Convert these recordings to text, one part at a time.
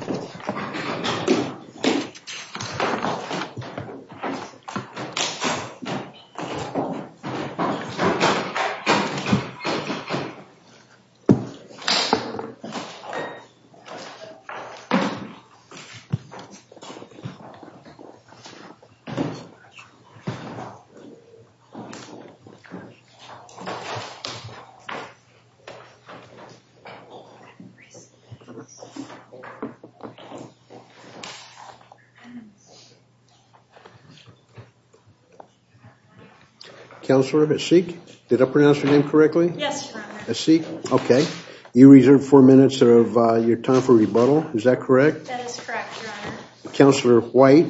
Councilor White,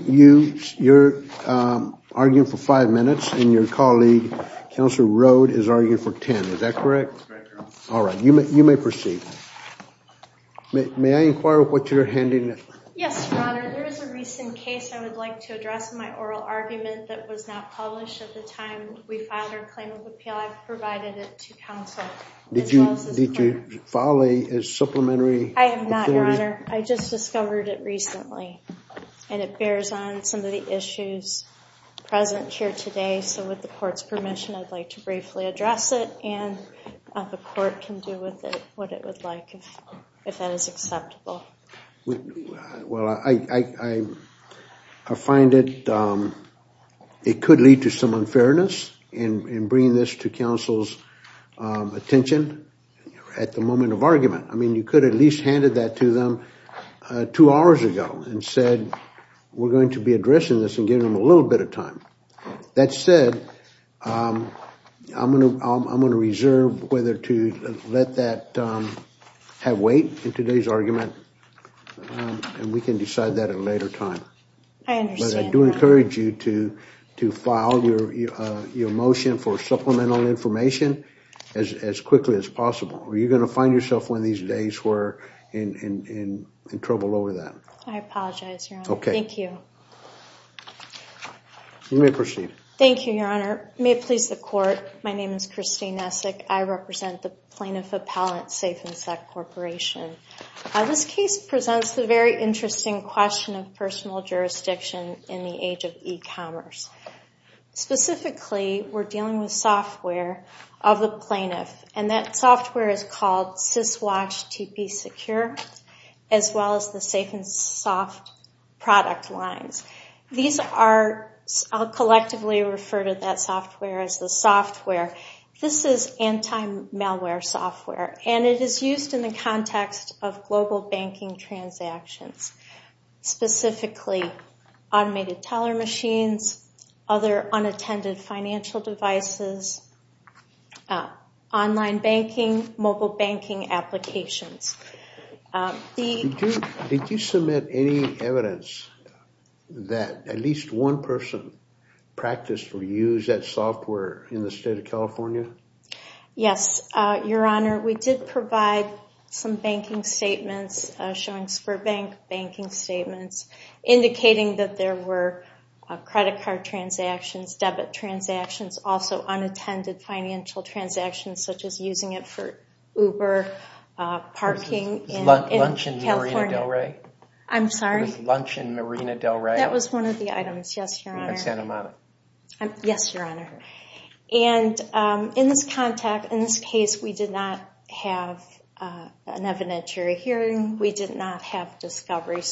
you are arguing for 5 minutes and your colleague, Councilor Rhoad, is arguing for 10. Is that correct? That's correct, Your Honor. Alright, you may proceed. May I inquire what you're handing? Yes, Your Honor. There is a recent case I would like to address in my oral argument that was not published at the time we filed our claim of appeal. I've provided it to Council. Did you file a supplementary? I have not, Your Honor. I just discovered it recently and it bears on some of the issues present here today. So with the court's permission, I'd like to briefly address it and the court can do with it what it would like if that is acceptable. Well, I find it could lead to some unfairness in bringing this to Council's attention at the moment of argument. I mean, you could have at least handed that to them two hours ago and said we're going to be addressing this and giving them a little bit of time. That said, I'm going to reserve whether to let that have weight in today's argument and we can decide that at a later time. I understand. But I do encourage you to file your motion for supplemental information as quickly as possible or you're going to find yourself one of these days where in trouble over that. I apologize, Your Honor. Okay. Thank you. You may proceed. Thank you, Your Honor. May it please the court, my name is Christine Essek. I represent the Plaintiff Appellate Safe and Sec Corporation. This case presents the very interesting question of personal jurisdiction in the age of e-commerce. Specifically, we're dealing with software of the plaintiff and that software is called SysWatch TP Secure as well as the Safe and Soft product lines. These are, I'll collectively refer to that software as the software. This is anti-malware software and it is used in the context of global banking transactions. Specifically, automated teller machines, other unattended financial devices, online banking, mobile banking applications. Did you submit any evidence that at least one person practiced or used that software in the state of California? Yes, Your Honor. We did provide some banking statements, showing Sperbank banking statements, indicating that there were credit card transactions, debit transactions, also unattended financial transactions such as using it for Uber, parking in California. Was lunch in Marina Del Rey? I'm sorry? Was lunch in Marina Del Rey? That was one of the items, yes, Your Honor. In Santa Monica? Yes, Your Honor. In this case, we did not have an evidentiary hearing. We did not have discovery.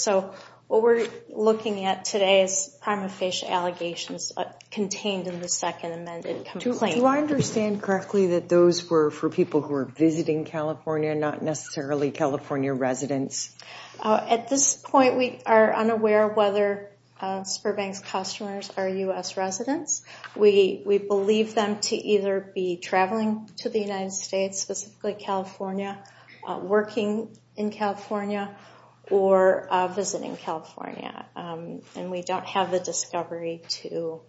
What we're looking at today is prima facie allegations contained in the second amended complaint. Do I understand correctly that those were for people who were visiting California, not necessarily California residents? At this point, we are unaware of whether Sperbank's customers are U.S. residents. We believe them to either be traveling to the United States, specifically California, working in California, or visiting California. And we don't have the discovery to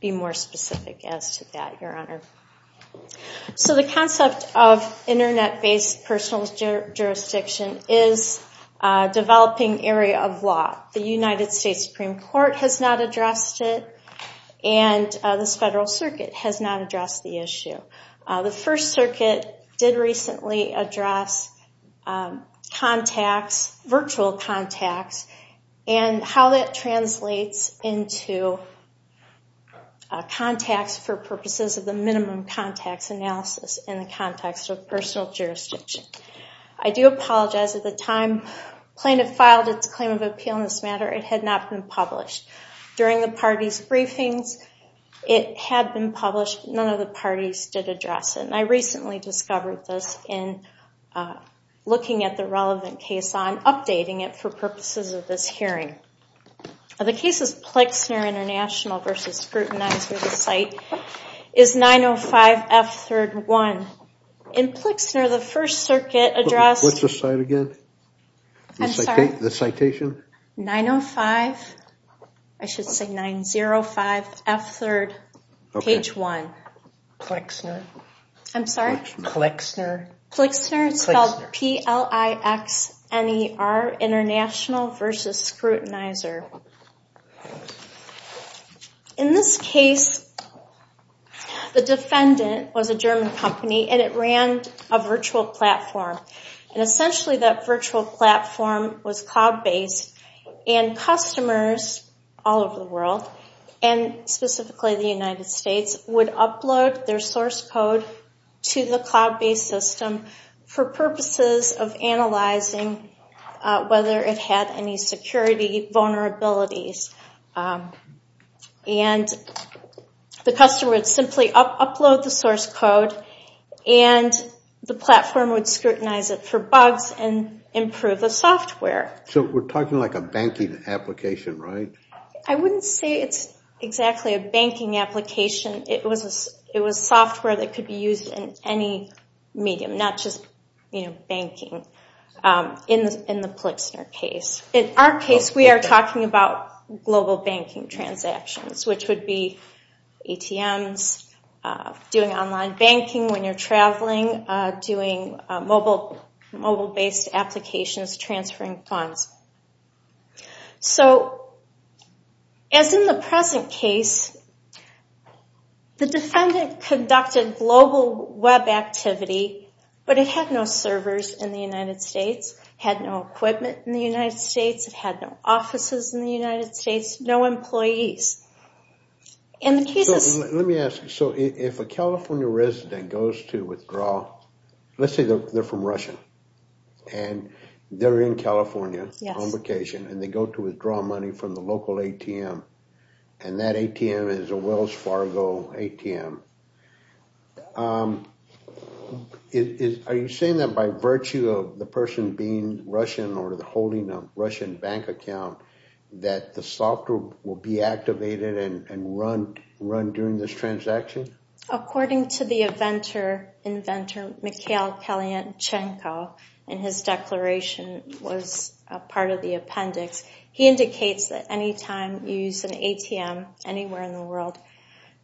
be more specific as to that, Your Honor. So the concept of internet-based personal jurisdiction is a developing area of law. The United States Supreme Court has not addressed it, The First Circuit did recently address contacts, virtual contacts, and how that translates into contacts for purposes of the minimum contacts analysis in the context of personal jurisdiction. I do apologize. At the time plaintiff filed its claim of appeal in this matter, it had not been published. During the parties' briefings, it had been published. None of the parties did address it, and I recently discovered this in looking at the relevant case on updating it for purposes of this hearing. The case is Plexner International v. Scrutinizer. The site is 905 F. 3rd. 1. In Plexner, the First Circuit addressed... What's the site again? I'm sorry? The citation? 905, I should say 905 F. 3rd, page 1. Plexner? I'm sorry? Plexner? Plexner. It's spelled P-L-I-X-N-E-R, International v. Scrutinizer. In this case, the defendant was a German company, and it ran a virtual platform. Essentially, that virtual platform was cloud-based, and customers all over the world, and specifically the United States, would upload their source code to the cloud-based system for purposes of analyzing whether it had any security vulnerabilities. The customer would simply upload the source code, and the platform would scrutinize it for bugs and improve the software. So we're talking like a banking application, right? I wouldn't say it's exactly a banking application. It was software that could be used in any medium, not just banking, in the Plexner case. In our case, we are talking about global banking transactions, which would be ATMs, doing online banking when you're traveling, doing mobile-based applications, transferring funds. So as in the present case, the defendant conducted global web activity, but it had no servers in the United States, had no equipment in the United States, had no offices in the United States, no employees. Let me ask you, so if a California resident goes to withdraw, let's say they're from Russia, and they're in California on vacation, and they go to withdraw money from the local ATM, and that ATM is a Wells Fargo ATM, are you saying that by virtue of the person being Russian or holding a Russian bank account, that the software will be activated and run during this transaction? According to the inventor, Mikhail Kalinchenko, and his declaration was a part of the appendix, he indicates that any time you use an ATM anywhere in the world,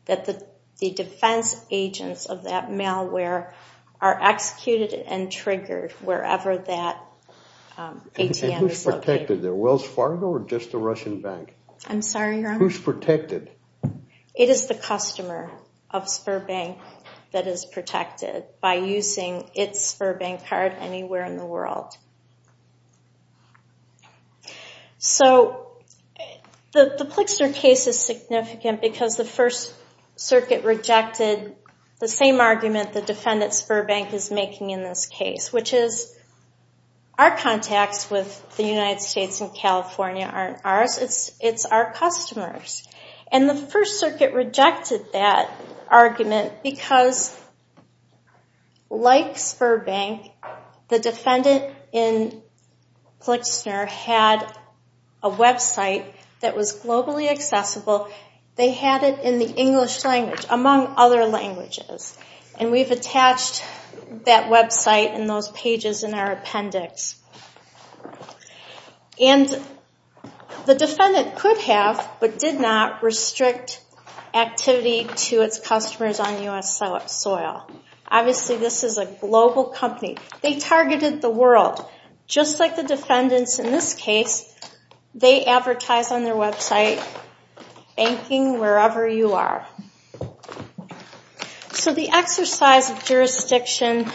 that the defense agents of that malware are executed and triggered wherever that ATM is located. And who's protected there, Wells Fargo or just the Russian bank? I'm sorry, your Honor? Who's protected? It is the customer of Sberbank that is protected by using its Sberbank card anywhere in the world. So the Plixner case is significant because the First Circuit rejected the same argument the defendant Sberbank is making in this case, which is our contacts with the United States and California aren't ours, it's our customers. And the First Circuit rejected that argument because, like Sberbank, the defendant in Plixner had a website that was globally accessible. They had it in the English language, among other languages. And we've attached that website and those pages in our appendix. And the defendant could have but did not restrict activity to its customers on U.S. soil. Obviously, this is a global company. They targeted the world. Just like the defendants in this case, they advertise on their website, banking wherever you are. So the exercise of jurisdiction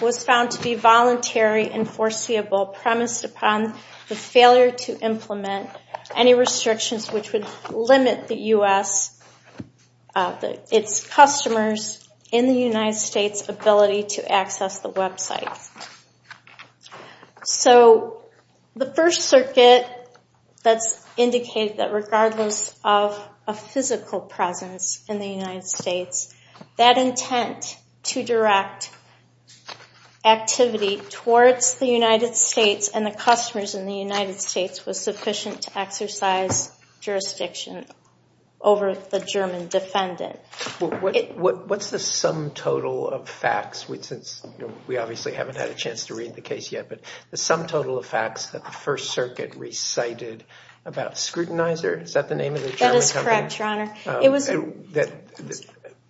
was found to be voluntary and foreseeable, premised upon the failure to implement any restrictions which would limit the U.S., its customers in the United States' ability to access the website. So the First Circuit, that's indicated that regardless of a physical presence in the United States, that intent to direct activity towards the United States and the customers in the United States was sufficient to exercise jurisdiction over the German defendant. What's the sum total of facts, since we obviously haven't had a chance to read the case yet, but the sum total of facts that the First Circuit recited about Scrutinizer, is that the name of the German company? That is correct, Your Honor.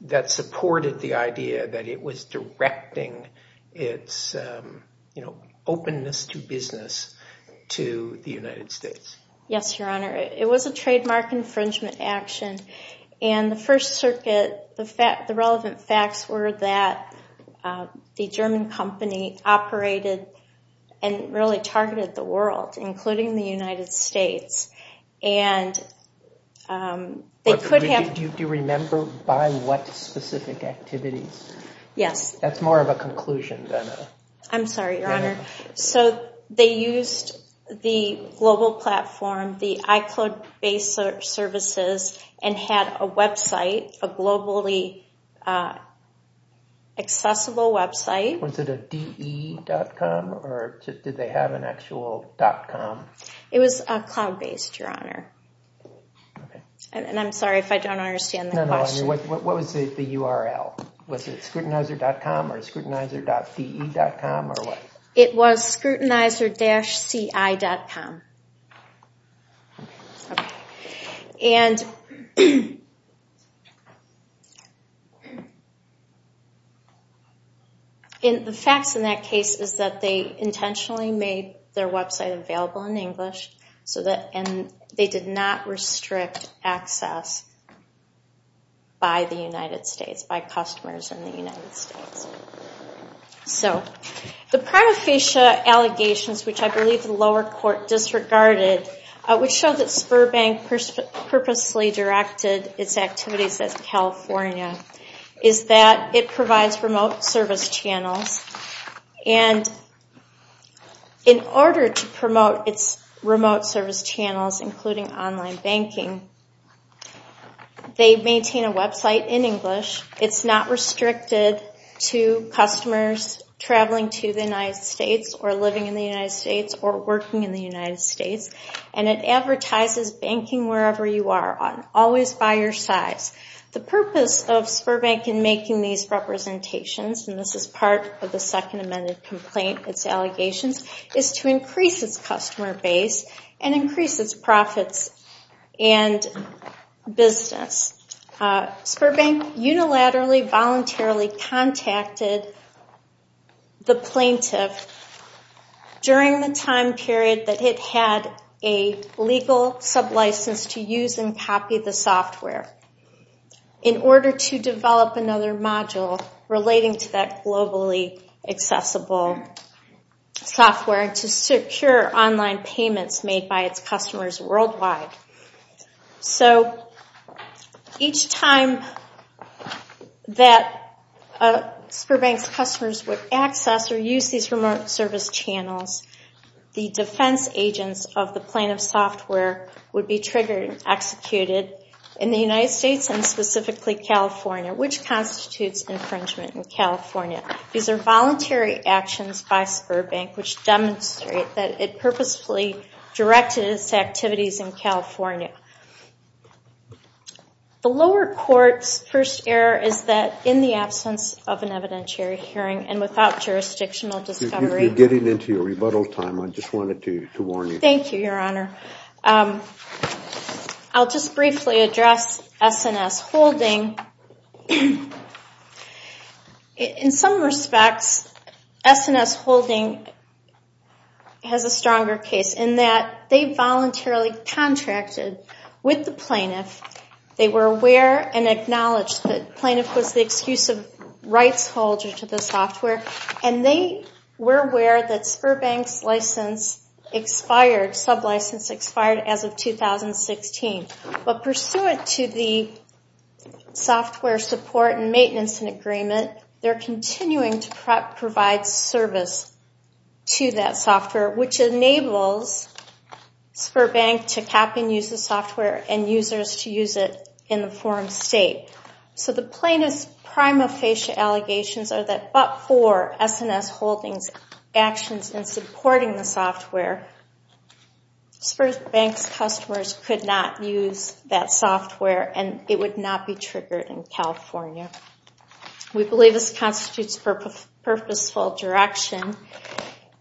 That supported the idea that it was directing its openness to business to the United States. Yes, Your Honor. It was a trademark infringement action, and the First Circuit, the relevant facts were that the German company operated and really targeted the world, including the United States. Do you remember by what specific activities? Yes. That's more of a conclusion than a... I'm sorry, Your Honor. So they used the global platform, the iCloud-based services, and had a website, a globally accessible website. Was it a de.com, or did they have an actual .com? It was cloud-based, Your Honor. I'm sorry if I don't understand the question. What was the URL? Was it scrutinizer.com or scrutinizer.de.com, or what? It was scrutinizer-ci.com. Okay. The facts in that case is that they intentionally made their website available in English, and they did not restrict access by the United States, by customers in the United States. So the prima facie allegations, which I believe the lower court disregarded, which showed that Sberbank purposely directed its activities at California, is that it provides remote service channels. And in order to promote its remote service channels, including online banking, they maintain a website in English. It's not restricted to customers traveling to the United States or living in the United States or working in the United States. And it advertises banking wherever you are, always by your size. The purpose of Sberbank in making these representations, and this is part of the second amended complaint, its allegations, is to increase its customer base and increase its profits and business. Sberbank unilaterally, voluntarily contacted the plaintiff during the time period that it had a legal sublicense to use and copy the software in order to develop another module relating to that globally accessible software to secure online payments made by its customers worldwide. So each time that Sberbank's customers would access or use these remote service channels, the defense agents of the plaintiff's software would be triggered and executed in the United States and specifically California, which constitutes infringement in California. These are voluntary actions by Sberbank which demonstrate that it purposefully directed its activities in California. The lower court's first error is that in the absence of an evidentiary hearing and without jurisdictional discovery. You're getting into your rebuttal time. I just wanted to warn you. Thank you, Your Honor. I'll just briefly address S&S Holding. In some respects, S&S Holding has a stronger case in that they voluntarily contracted with the plaintiff. They were aware and acknowledged that the plaintiff was the exclusive rights holder to the software, and they were aware that Sberbank's license expired, sublicense expired as of 2016. But pursuant to the software support and maintenance agreement, they're continuing to provide service to that software, which enables Sberbank to cap and use the software and users to use it in the foreign state. So the plaintiff's prima facie allegations are that but for S&S Holding's actions in supporting the software, Sberbank's customers could not use that software, and it would not be triggered in California. We believe this constitutes purposeful direction,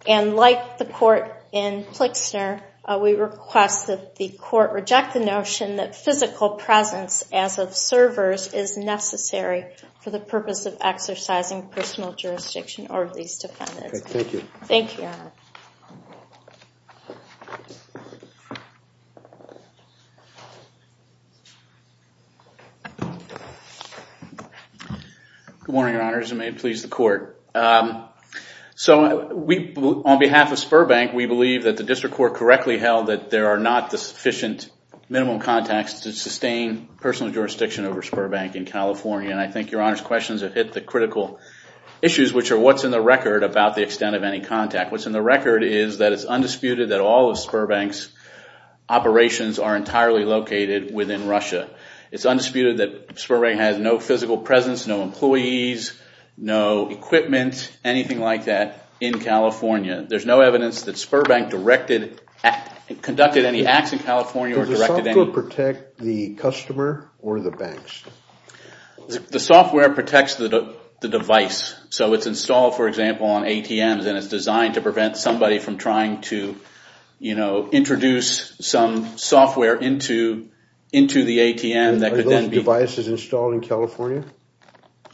and like the court in Klixner, we request that the court reject the notion that physical presence as of servers is necessary for the purpose of exercising personal jurisdiction over these defendants. Thank you. Good morning, Your Honors, and may it please the court. So on behalf of Sberbank, we believe that the district court correctly held that there are not the sufficient minimum context to sustain personal jurisdiction over Sberbank in California, and I think Your Honor's questions have hit the critical issues, which are what's in the record about the extent of any contact. What's in the record is that it's undisputed that all of Sberbank's operations are entirely located within Russia. It's undisputed that Sberbank has no physical presence, no employees, no equipment, anything like that in California. There's no evidence that Sberbank conducted any acts in California or directed any... Does the software protect the customer or the banks? The software protects the device. So it's installed, for example, on ATMs and it's designed to prevent somebody from trying to introduce some software into the ATM that could then be... Are those devices installed in California?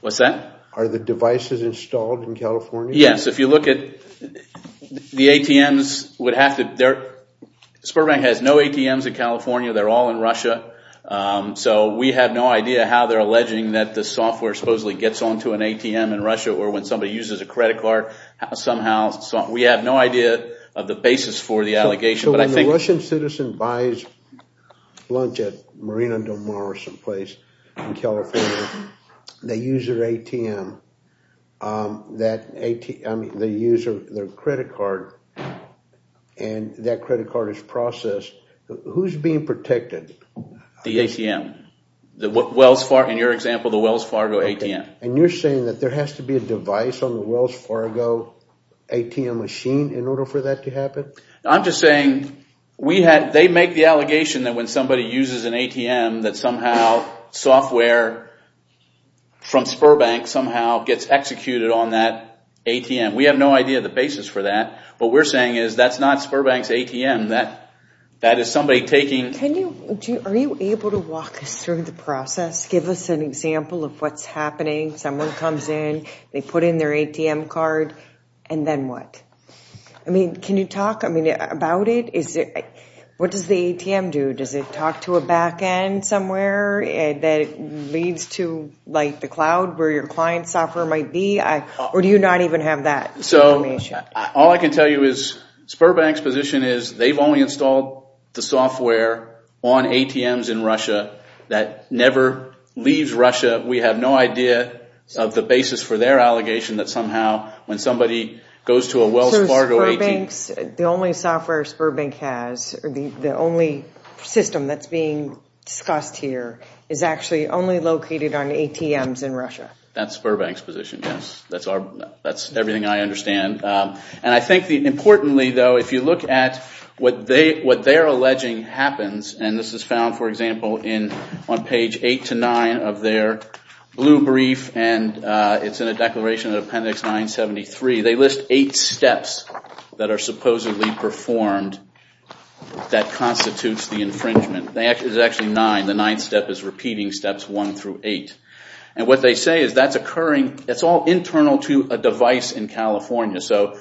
What's that? Are the devices installed in California? Yes, if you look at the ATMs, Sberbank has no ATMs in California. They're all in Russia. So we have no idea how they're alleging that the software supposedly gets onto an ATM in Russia or when somebody uses a credit card somehow. We have no idea of the basis for the allegation, but I think... So when a Russian citizen buys lunch at Marina Del Mar or someplace in California, they use their ATM, I mean they use their credit card, and that credit card is processed. Who's being protected? The ATM. In your example, the Wells Fargo ATM. And you're saying that there has to be a device on the Wells Fargo ATM machine in order for that to happen? I'm just saying they make the allegation that when somebody uses an ATM, that somehow software from Sberbank somehow gets executed on that ATM. We have no idea of the basis for that. What we're saying is that's not Sberbank's ATM. That is somebody taking... Are you able to walk us through the process? Give us an example of what's happening. Someone comes in, they put in their ATM card, and then what? I mean, can you talk about it? What does the ATM do? Does it talk to a back end somewhere that leads to the cloud where your client's software might be? Or do you not even have that information? All I can tell you is Sberbank's position is they've only installed the software on ATMs in Russia that never leaves Russia. We have no idea of the basis for their allegation that somehow when somebody goes to a Wells Fargo ATM... So Sberbank's, the only software Sberbank has, the only system that's being discussed here, is actually only located on ATMs in Russia? That's Sberbank's position, yes. That's everything I understand. And I think importantly, though, if you look at what they're alleging happens, and this is found, for example, on page 8 to 9 of their blue brief, and it's in a declaration of appendix 973, they list eight steps that are supposedly performed that constitutes the infringement. There's actually nine. The ninth step is repeating steps 1 through 8. And what they say is that's occurring... It's all internal to a device in California. So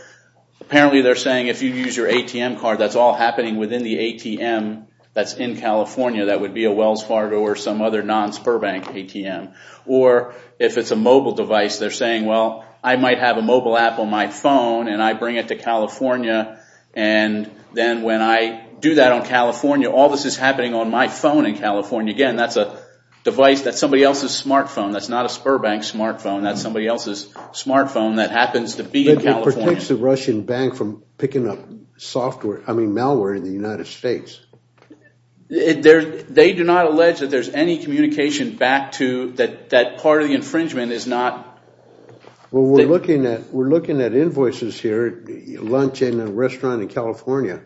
apparently they're saying if you use your ATM card, that's all happening within the ATM that's in California. That would be a Wells Fargo or some other non-Sberbank ATM. Or if it's a mobile device, they're saying, well, I might have a mobile app on my phone, and I bring it to California. And then when I do that on California, all this is happening on my phone in California. And, again, that's a device that's somebody else's smartphone. That's not a Sberbank smartphone. That's somebody else's smartphone that happens to be in California. It protects the Russian bank from picking up malware in the United States. They do not allege that there's any communication back to... that part of the infringement is not... Well, we're looking at invoices here, lunch in a restaurant in California,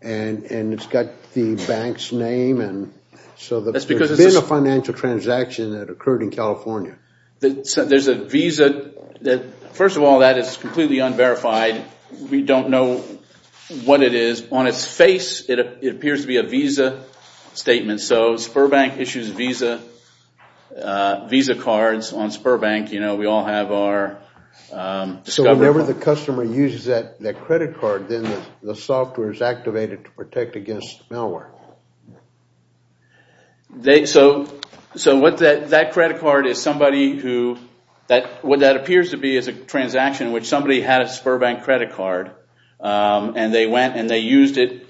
and it's got the bank's name. So there's been a financial transaction that occurred in California. There's a visa. First of all, that is completely unverified. We don't know what it is. On its face, it appears to be a visa statement. So Sberbank issues visa cards on Sberbank. We all have our... So whenever the customer uses that credit card, then the software is activated to protect against malware. So what that credit card is somebody who... What that appears to be is a transaction in which somebody had a Sberbank credit card, and they went and they used it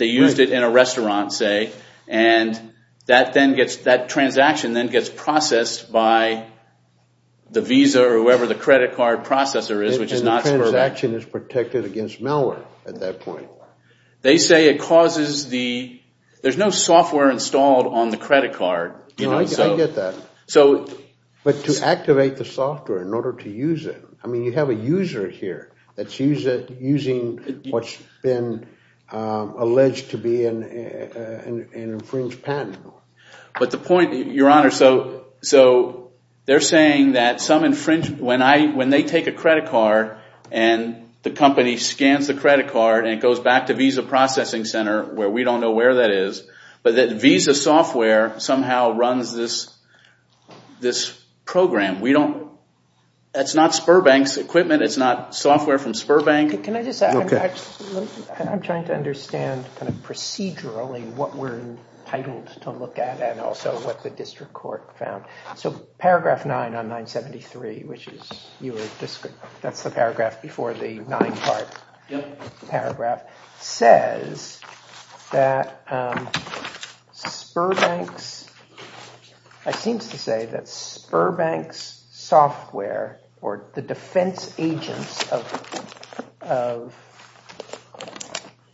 in a restaurant, say, and that transaction then gets processed by the visa or whoever the credit card processor is, which is not Sberbank. So that transaction is protected against malware at that point. They say it causes the... There's no software installed on the credit card. I get that. But to activate the software in order to use it... I mean, you have a user here that's using what's been alleged to be an infringed patent. But the point, Your Honor... So they're saying that when they take a credit card and the company scans the credit card and it goes back to Visa Processing Center, where we don't know where that is, but that Visa software somehow runs this program. We don't... That's not Sberbank's equipment. It's not software from Sberbank. Can I just... I'm trying to understand kind of procedurally what we're entitled to look at and also what the district court found. So paragraph 9 on 973, which is your... That's the paragraph before the nine-part paragraph, says that Sberbank's... It seems to say that Sberbank's software or the defense agents of...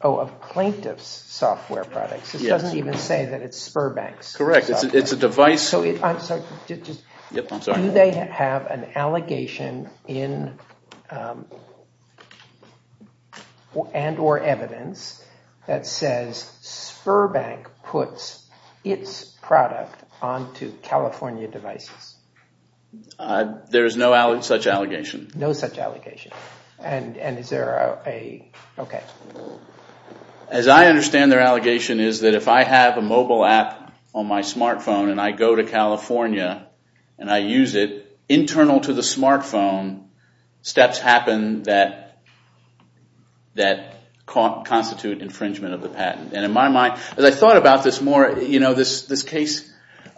Oh, of plaintiff's software products. This doesn't even say that it's Sberbank's. Correct. It's a device... I'm sorry. Do they have an allegation and or evidence that says Sberbank puts its product onto California devices? There is no such allegation. No such allegation. And is there a... Okay. As I understand their allegation is that if I have a mobile app on my smartphone and I go to California and I use it internal to the smartphone, steps happen that constitute infringement of the patent. And in my mind, as I thought about this more, this case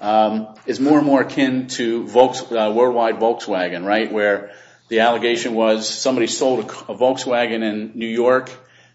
is more and more akin to worldwide Volkswagen, right? Where the allegation was somebody sold a Volkswagen in New York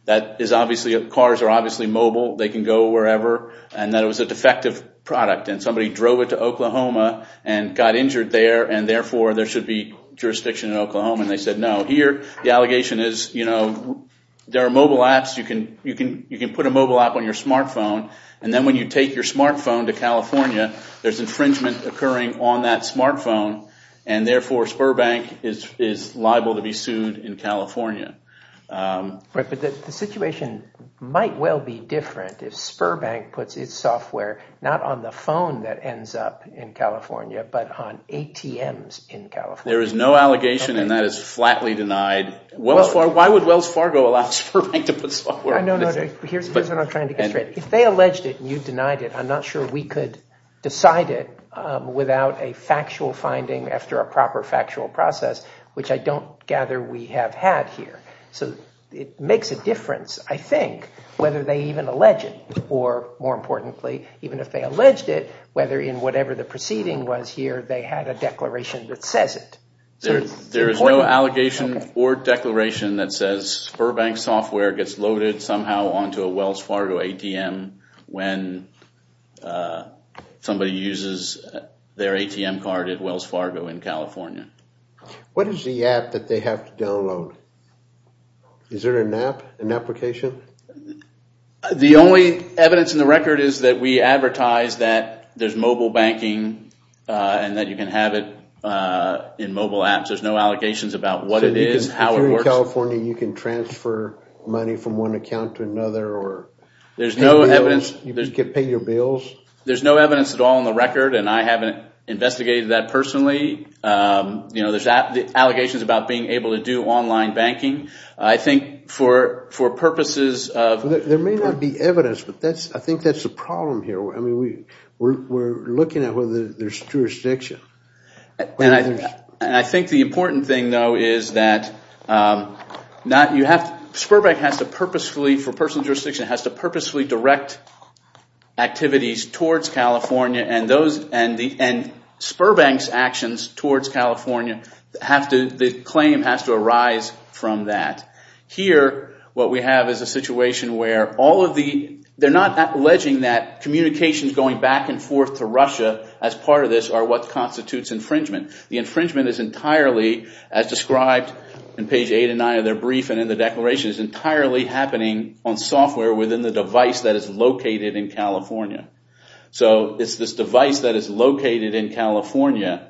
that is obviously... Cars are obviously mobile. They can go wherever. And that it was a defective product. And somebody drove it to Oklahoma and got injured there and therefore there should be jurisdiction in Oklahoma. And they said no. Here, the allegation is, you know, there are mobile apps. You can put a mobile app on your smartphone. And then when you take your smartphone to California, there's infringement occurring on that smartphone. And therefore Sberbank is liable to be sued in California. But the situation might well be different if Sberbank puts its software not on the phone that ends up in California but on ATMs in California. There is no allegation and that is flatly denied. Why would Wells Fargo allow Sberbank to put software... No, no, no. Here's what I'm trying to get straight. If they alleged it and you denied it, I'm not sure we could decide it without a factual finding after a proper factual process, which I don't gather we have had here. So it makes a difference, I think, whether they even allege it. Or, more importantly, even if they alleged it, whether in whatever the proceeding was here they had a declaration that says it. There is no allegation or declaration that says Sberbank software gets loaded somehow onto a Wells Fargo ATM when somebody uses their ATM card at Wells Fargo in California. What is the app that they have to download? Is there an app, an application? The only evidence in the record is that we advertise that there's mobile banking and that you can have it in mobile apps. There's no allegations about what it is, how it works. So here in California you can transfer money from one account to another or... There's no evidence... You can pay your bills? There's no evidence at all in the record and I haven't investigated that personally. There's allegations about being able to do online banking. I think for purposes of... There may not be evidence, but I think that's the problem here. We're looking at whether there's jurisdiction. And I think the important thing, though, is that Sberbank has to purposefully, for personal jurisdiction, has to purposefully direct activities towards California and Sberbank's actions towards California, the claim has to arise from that. Here what we have is a situation where all of the... They're not alleging that communications going back and forth to Russia as part of this are what constitutes infringement. The infringement is entirely, as described in page 8 and 9 of their brief and in the declaration, is entirely happening on software within the device that is located in California. So it's this device that is located in California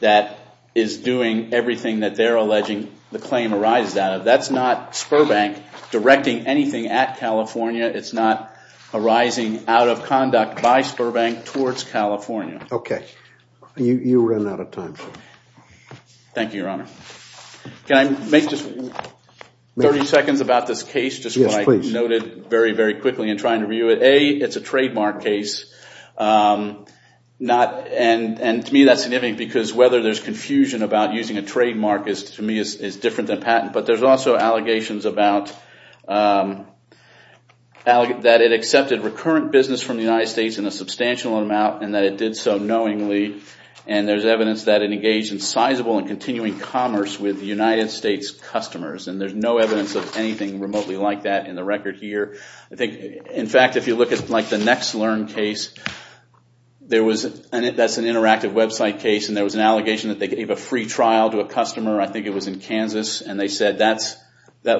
that is doing everything that they're alleging the claim arises out of. That's not Sberbank directing anything at California. It's not arising out of conduct by Sberbank towards California. Okay. You run out of time. Thank you, Your Honor. Can I make just 30 seconds about this case? Yes, please. Just what I noted very, very quickly in trying to review it. A, it's a trademark case. And to me that's significant because whether there's confusion about using a trademark to me is different than patent. But there's also allegations about... that it accepted recurrent business from the United States in a substantial amount and that it did so knowingly. And there's evidence that it engaged in sizable and continuing commerce with United States customers. And there's no evidence of anything remotely like that in the record here. In fact, if you look at the NextLearn case, that's an interactive website case and there was an allegation that they gave a free trial to a customer, I think it was in Kansas, and they said that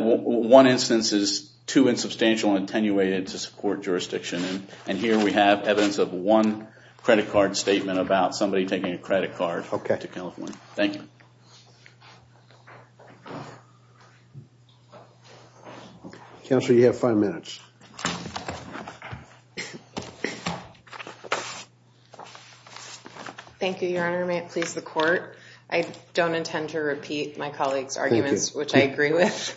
one instance is too insubstantial and attenuated to support jurisdiction. And here we have evidence of one credit card statement about somebody taking a credit card to California. Thank you. Counselor, you have five minutes. Thank you, Your Honor. May it please the court? I don't intend to repeat my colleague's arguments, which I agree with.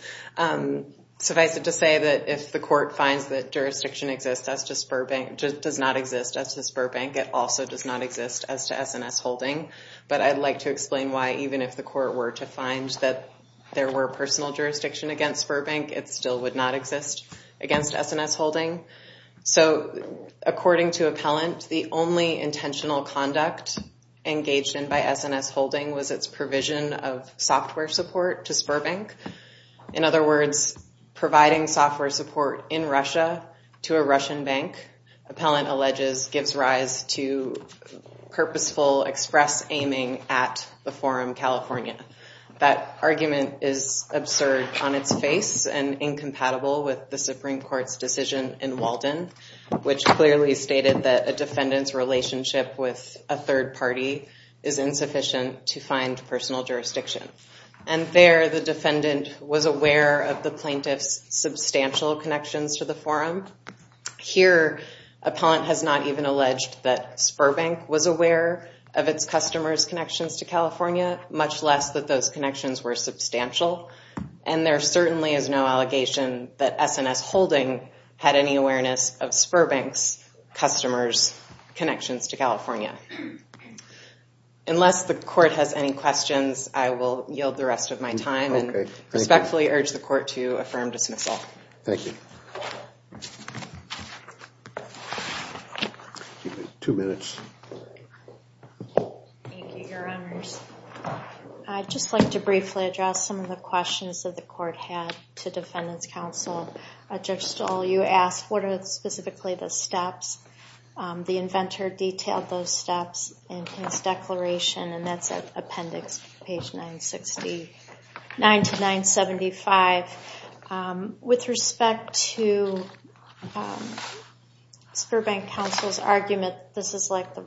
Suffice it to say that if the court finds that jurisdiction exists as to spur bank... does not exist as to spur bank, it also does not exist as to S&S holding. But I'd like to explain why even if the court finds that there were personal jurisdiction against spur bank, it still would not exist against S&S holding. So according to Appellant, the only intentional conduct engaged in by S&S holding was its provision of software support to spur bank. In other words, providing software support in Russia to a Russian bank, Appellant alleges, gives rise to purposeful express aiming at the Forum California. That argument is absurd on its face and incompatible with the Supreme Court's decision in Walden, which clearly stated that a defendant's relationship with a third party is insufficient to find personal jurisdiction. And there, the defendant was aware of the plaintiff's substantial connections to the Forum. Here, Appellant has not even alleged that spur bank was aware of its customers' connections to California, much less that those connections were substantial. And there certainly is no allegation that S&S holding had any awareness of spur bank's customers' connections to California. Unless the court has any questions, I will yield the rest of my time and respectfully urge the court to affirm dismissal. Thank you. Two minutes. Thank you, Your Honors. I'd just like to briefly address some of the questions that the court had to Defendant's Counsel. Judge Stoll, you asked what are specifically the steps. The inventor detailed those steps in his declaration, and that's at appendix page 969 to 975. With respect to spur bank counsel's argument that this is like the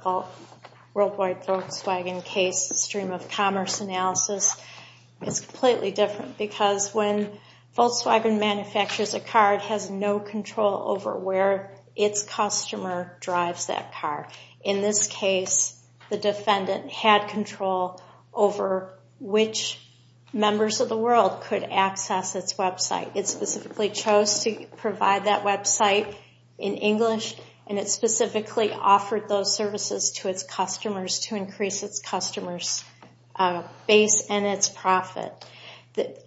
Volkswagen case, the stream of commerce analysis, it's completely different because when Volkswagen manufactures a car, it has no control over where its customer drives that car. In this case, the defendant had control over which members of the world could access its website. It specifically chose to provide that website in English, and it specifically offered those services to its customers to increase its customers' base and its profit.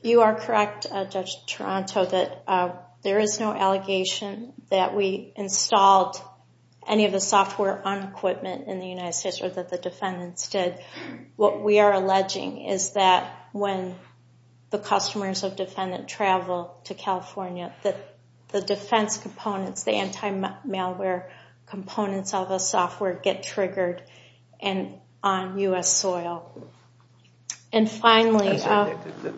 You are correct, Judge Toronto, that there is no allegation that we installed any of the software on equipment in the United States or that the defendants did. What we are alleging is that when the customers of defendant travel to California, that the defense components, the anti-malware components of the software, get triggered on U.S. soil. And finally...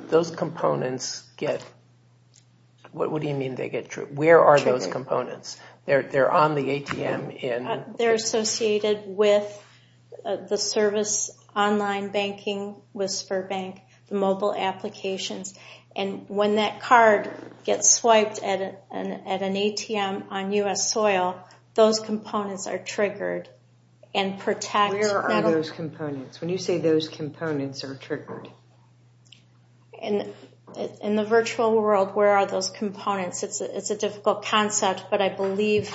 Those components get... What do you mean they get triggered? Where are those components? They're on the ATM in... They're associated with the service online banking with spur bank, the mobile applications. And when that card gets swiped at an ATM on U.S. soil, those components are triggered and protect... Where are those components? When you say those components are triggered? In the virtual world, where are those components? It's a difficult concept, but I believe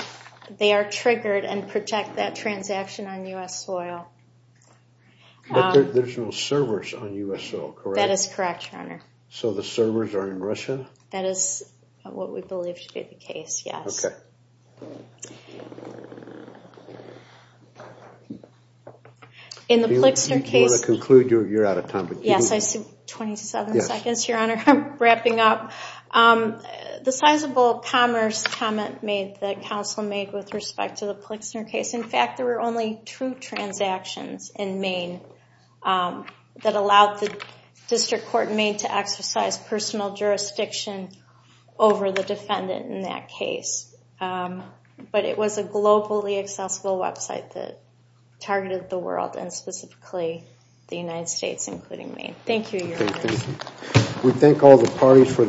they are triggered and protect that transaction on U.S. soil. But there's no servers on U.S. soil, correct? That is correct, Your Honor. So the servers are in Russia? That is what we believe to be the case, yes. Okay. In the Plixner case... If you want to conclude, you're out of time. Yes, I see 27 seconds, Your Honor. I'm wrapping up. The sizable commerce comment made that counsel made with respect to the Plixner case, in fact, there were only two transactions in Maine that allowed the district court in Maine to exercise personal jurisdiction over the defendant in that case. But it was a globally accessible website that targeted the world, and specifically the United States, including Maine. Thank you, Your Honor. Thank you. We thank all the parties for their participation.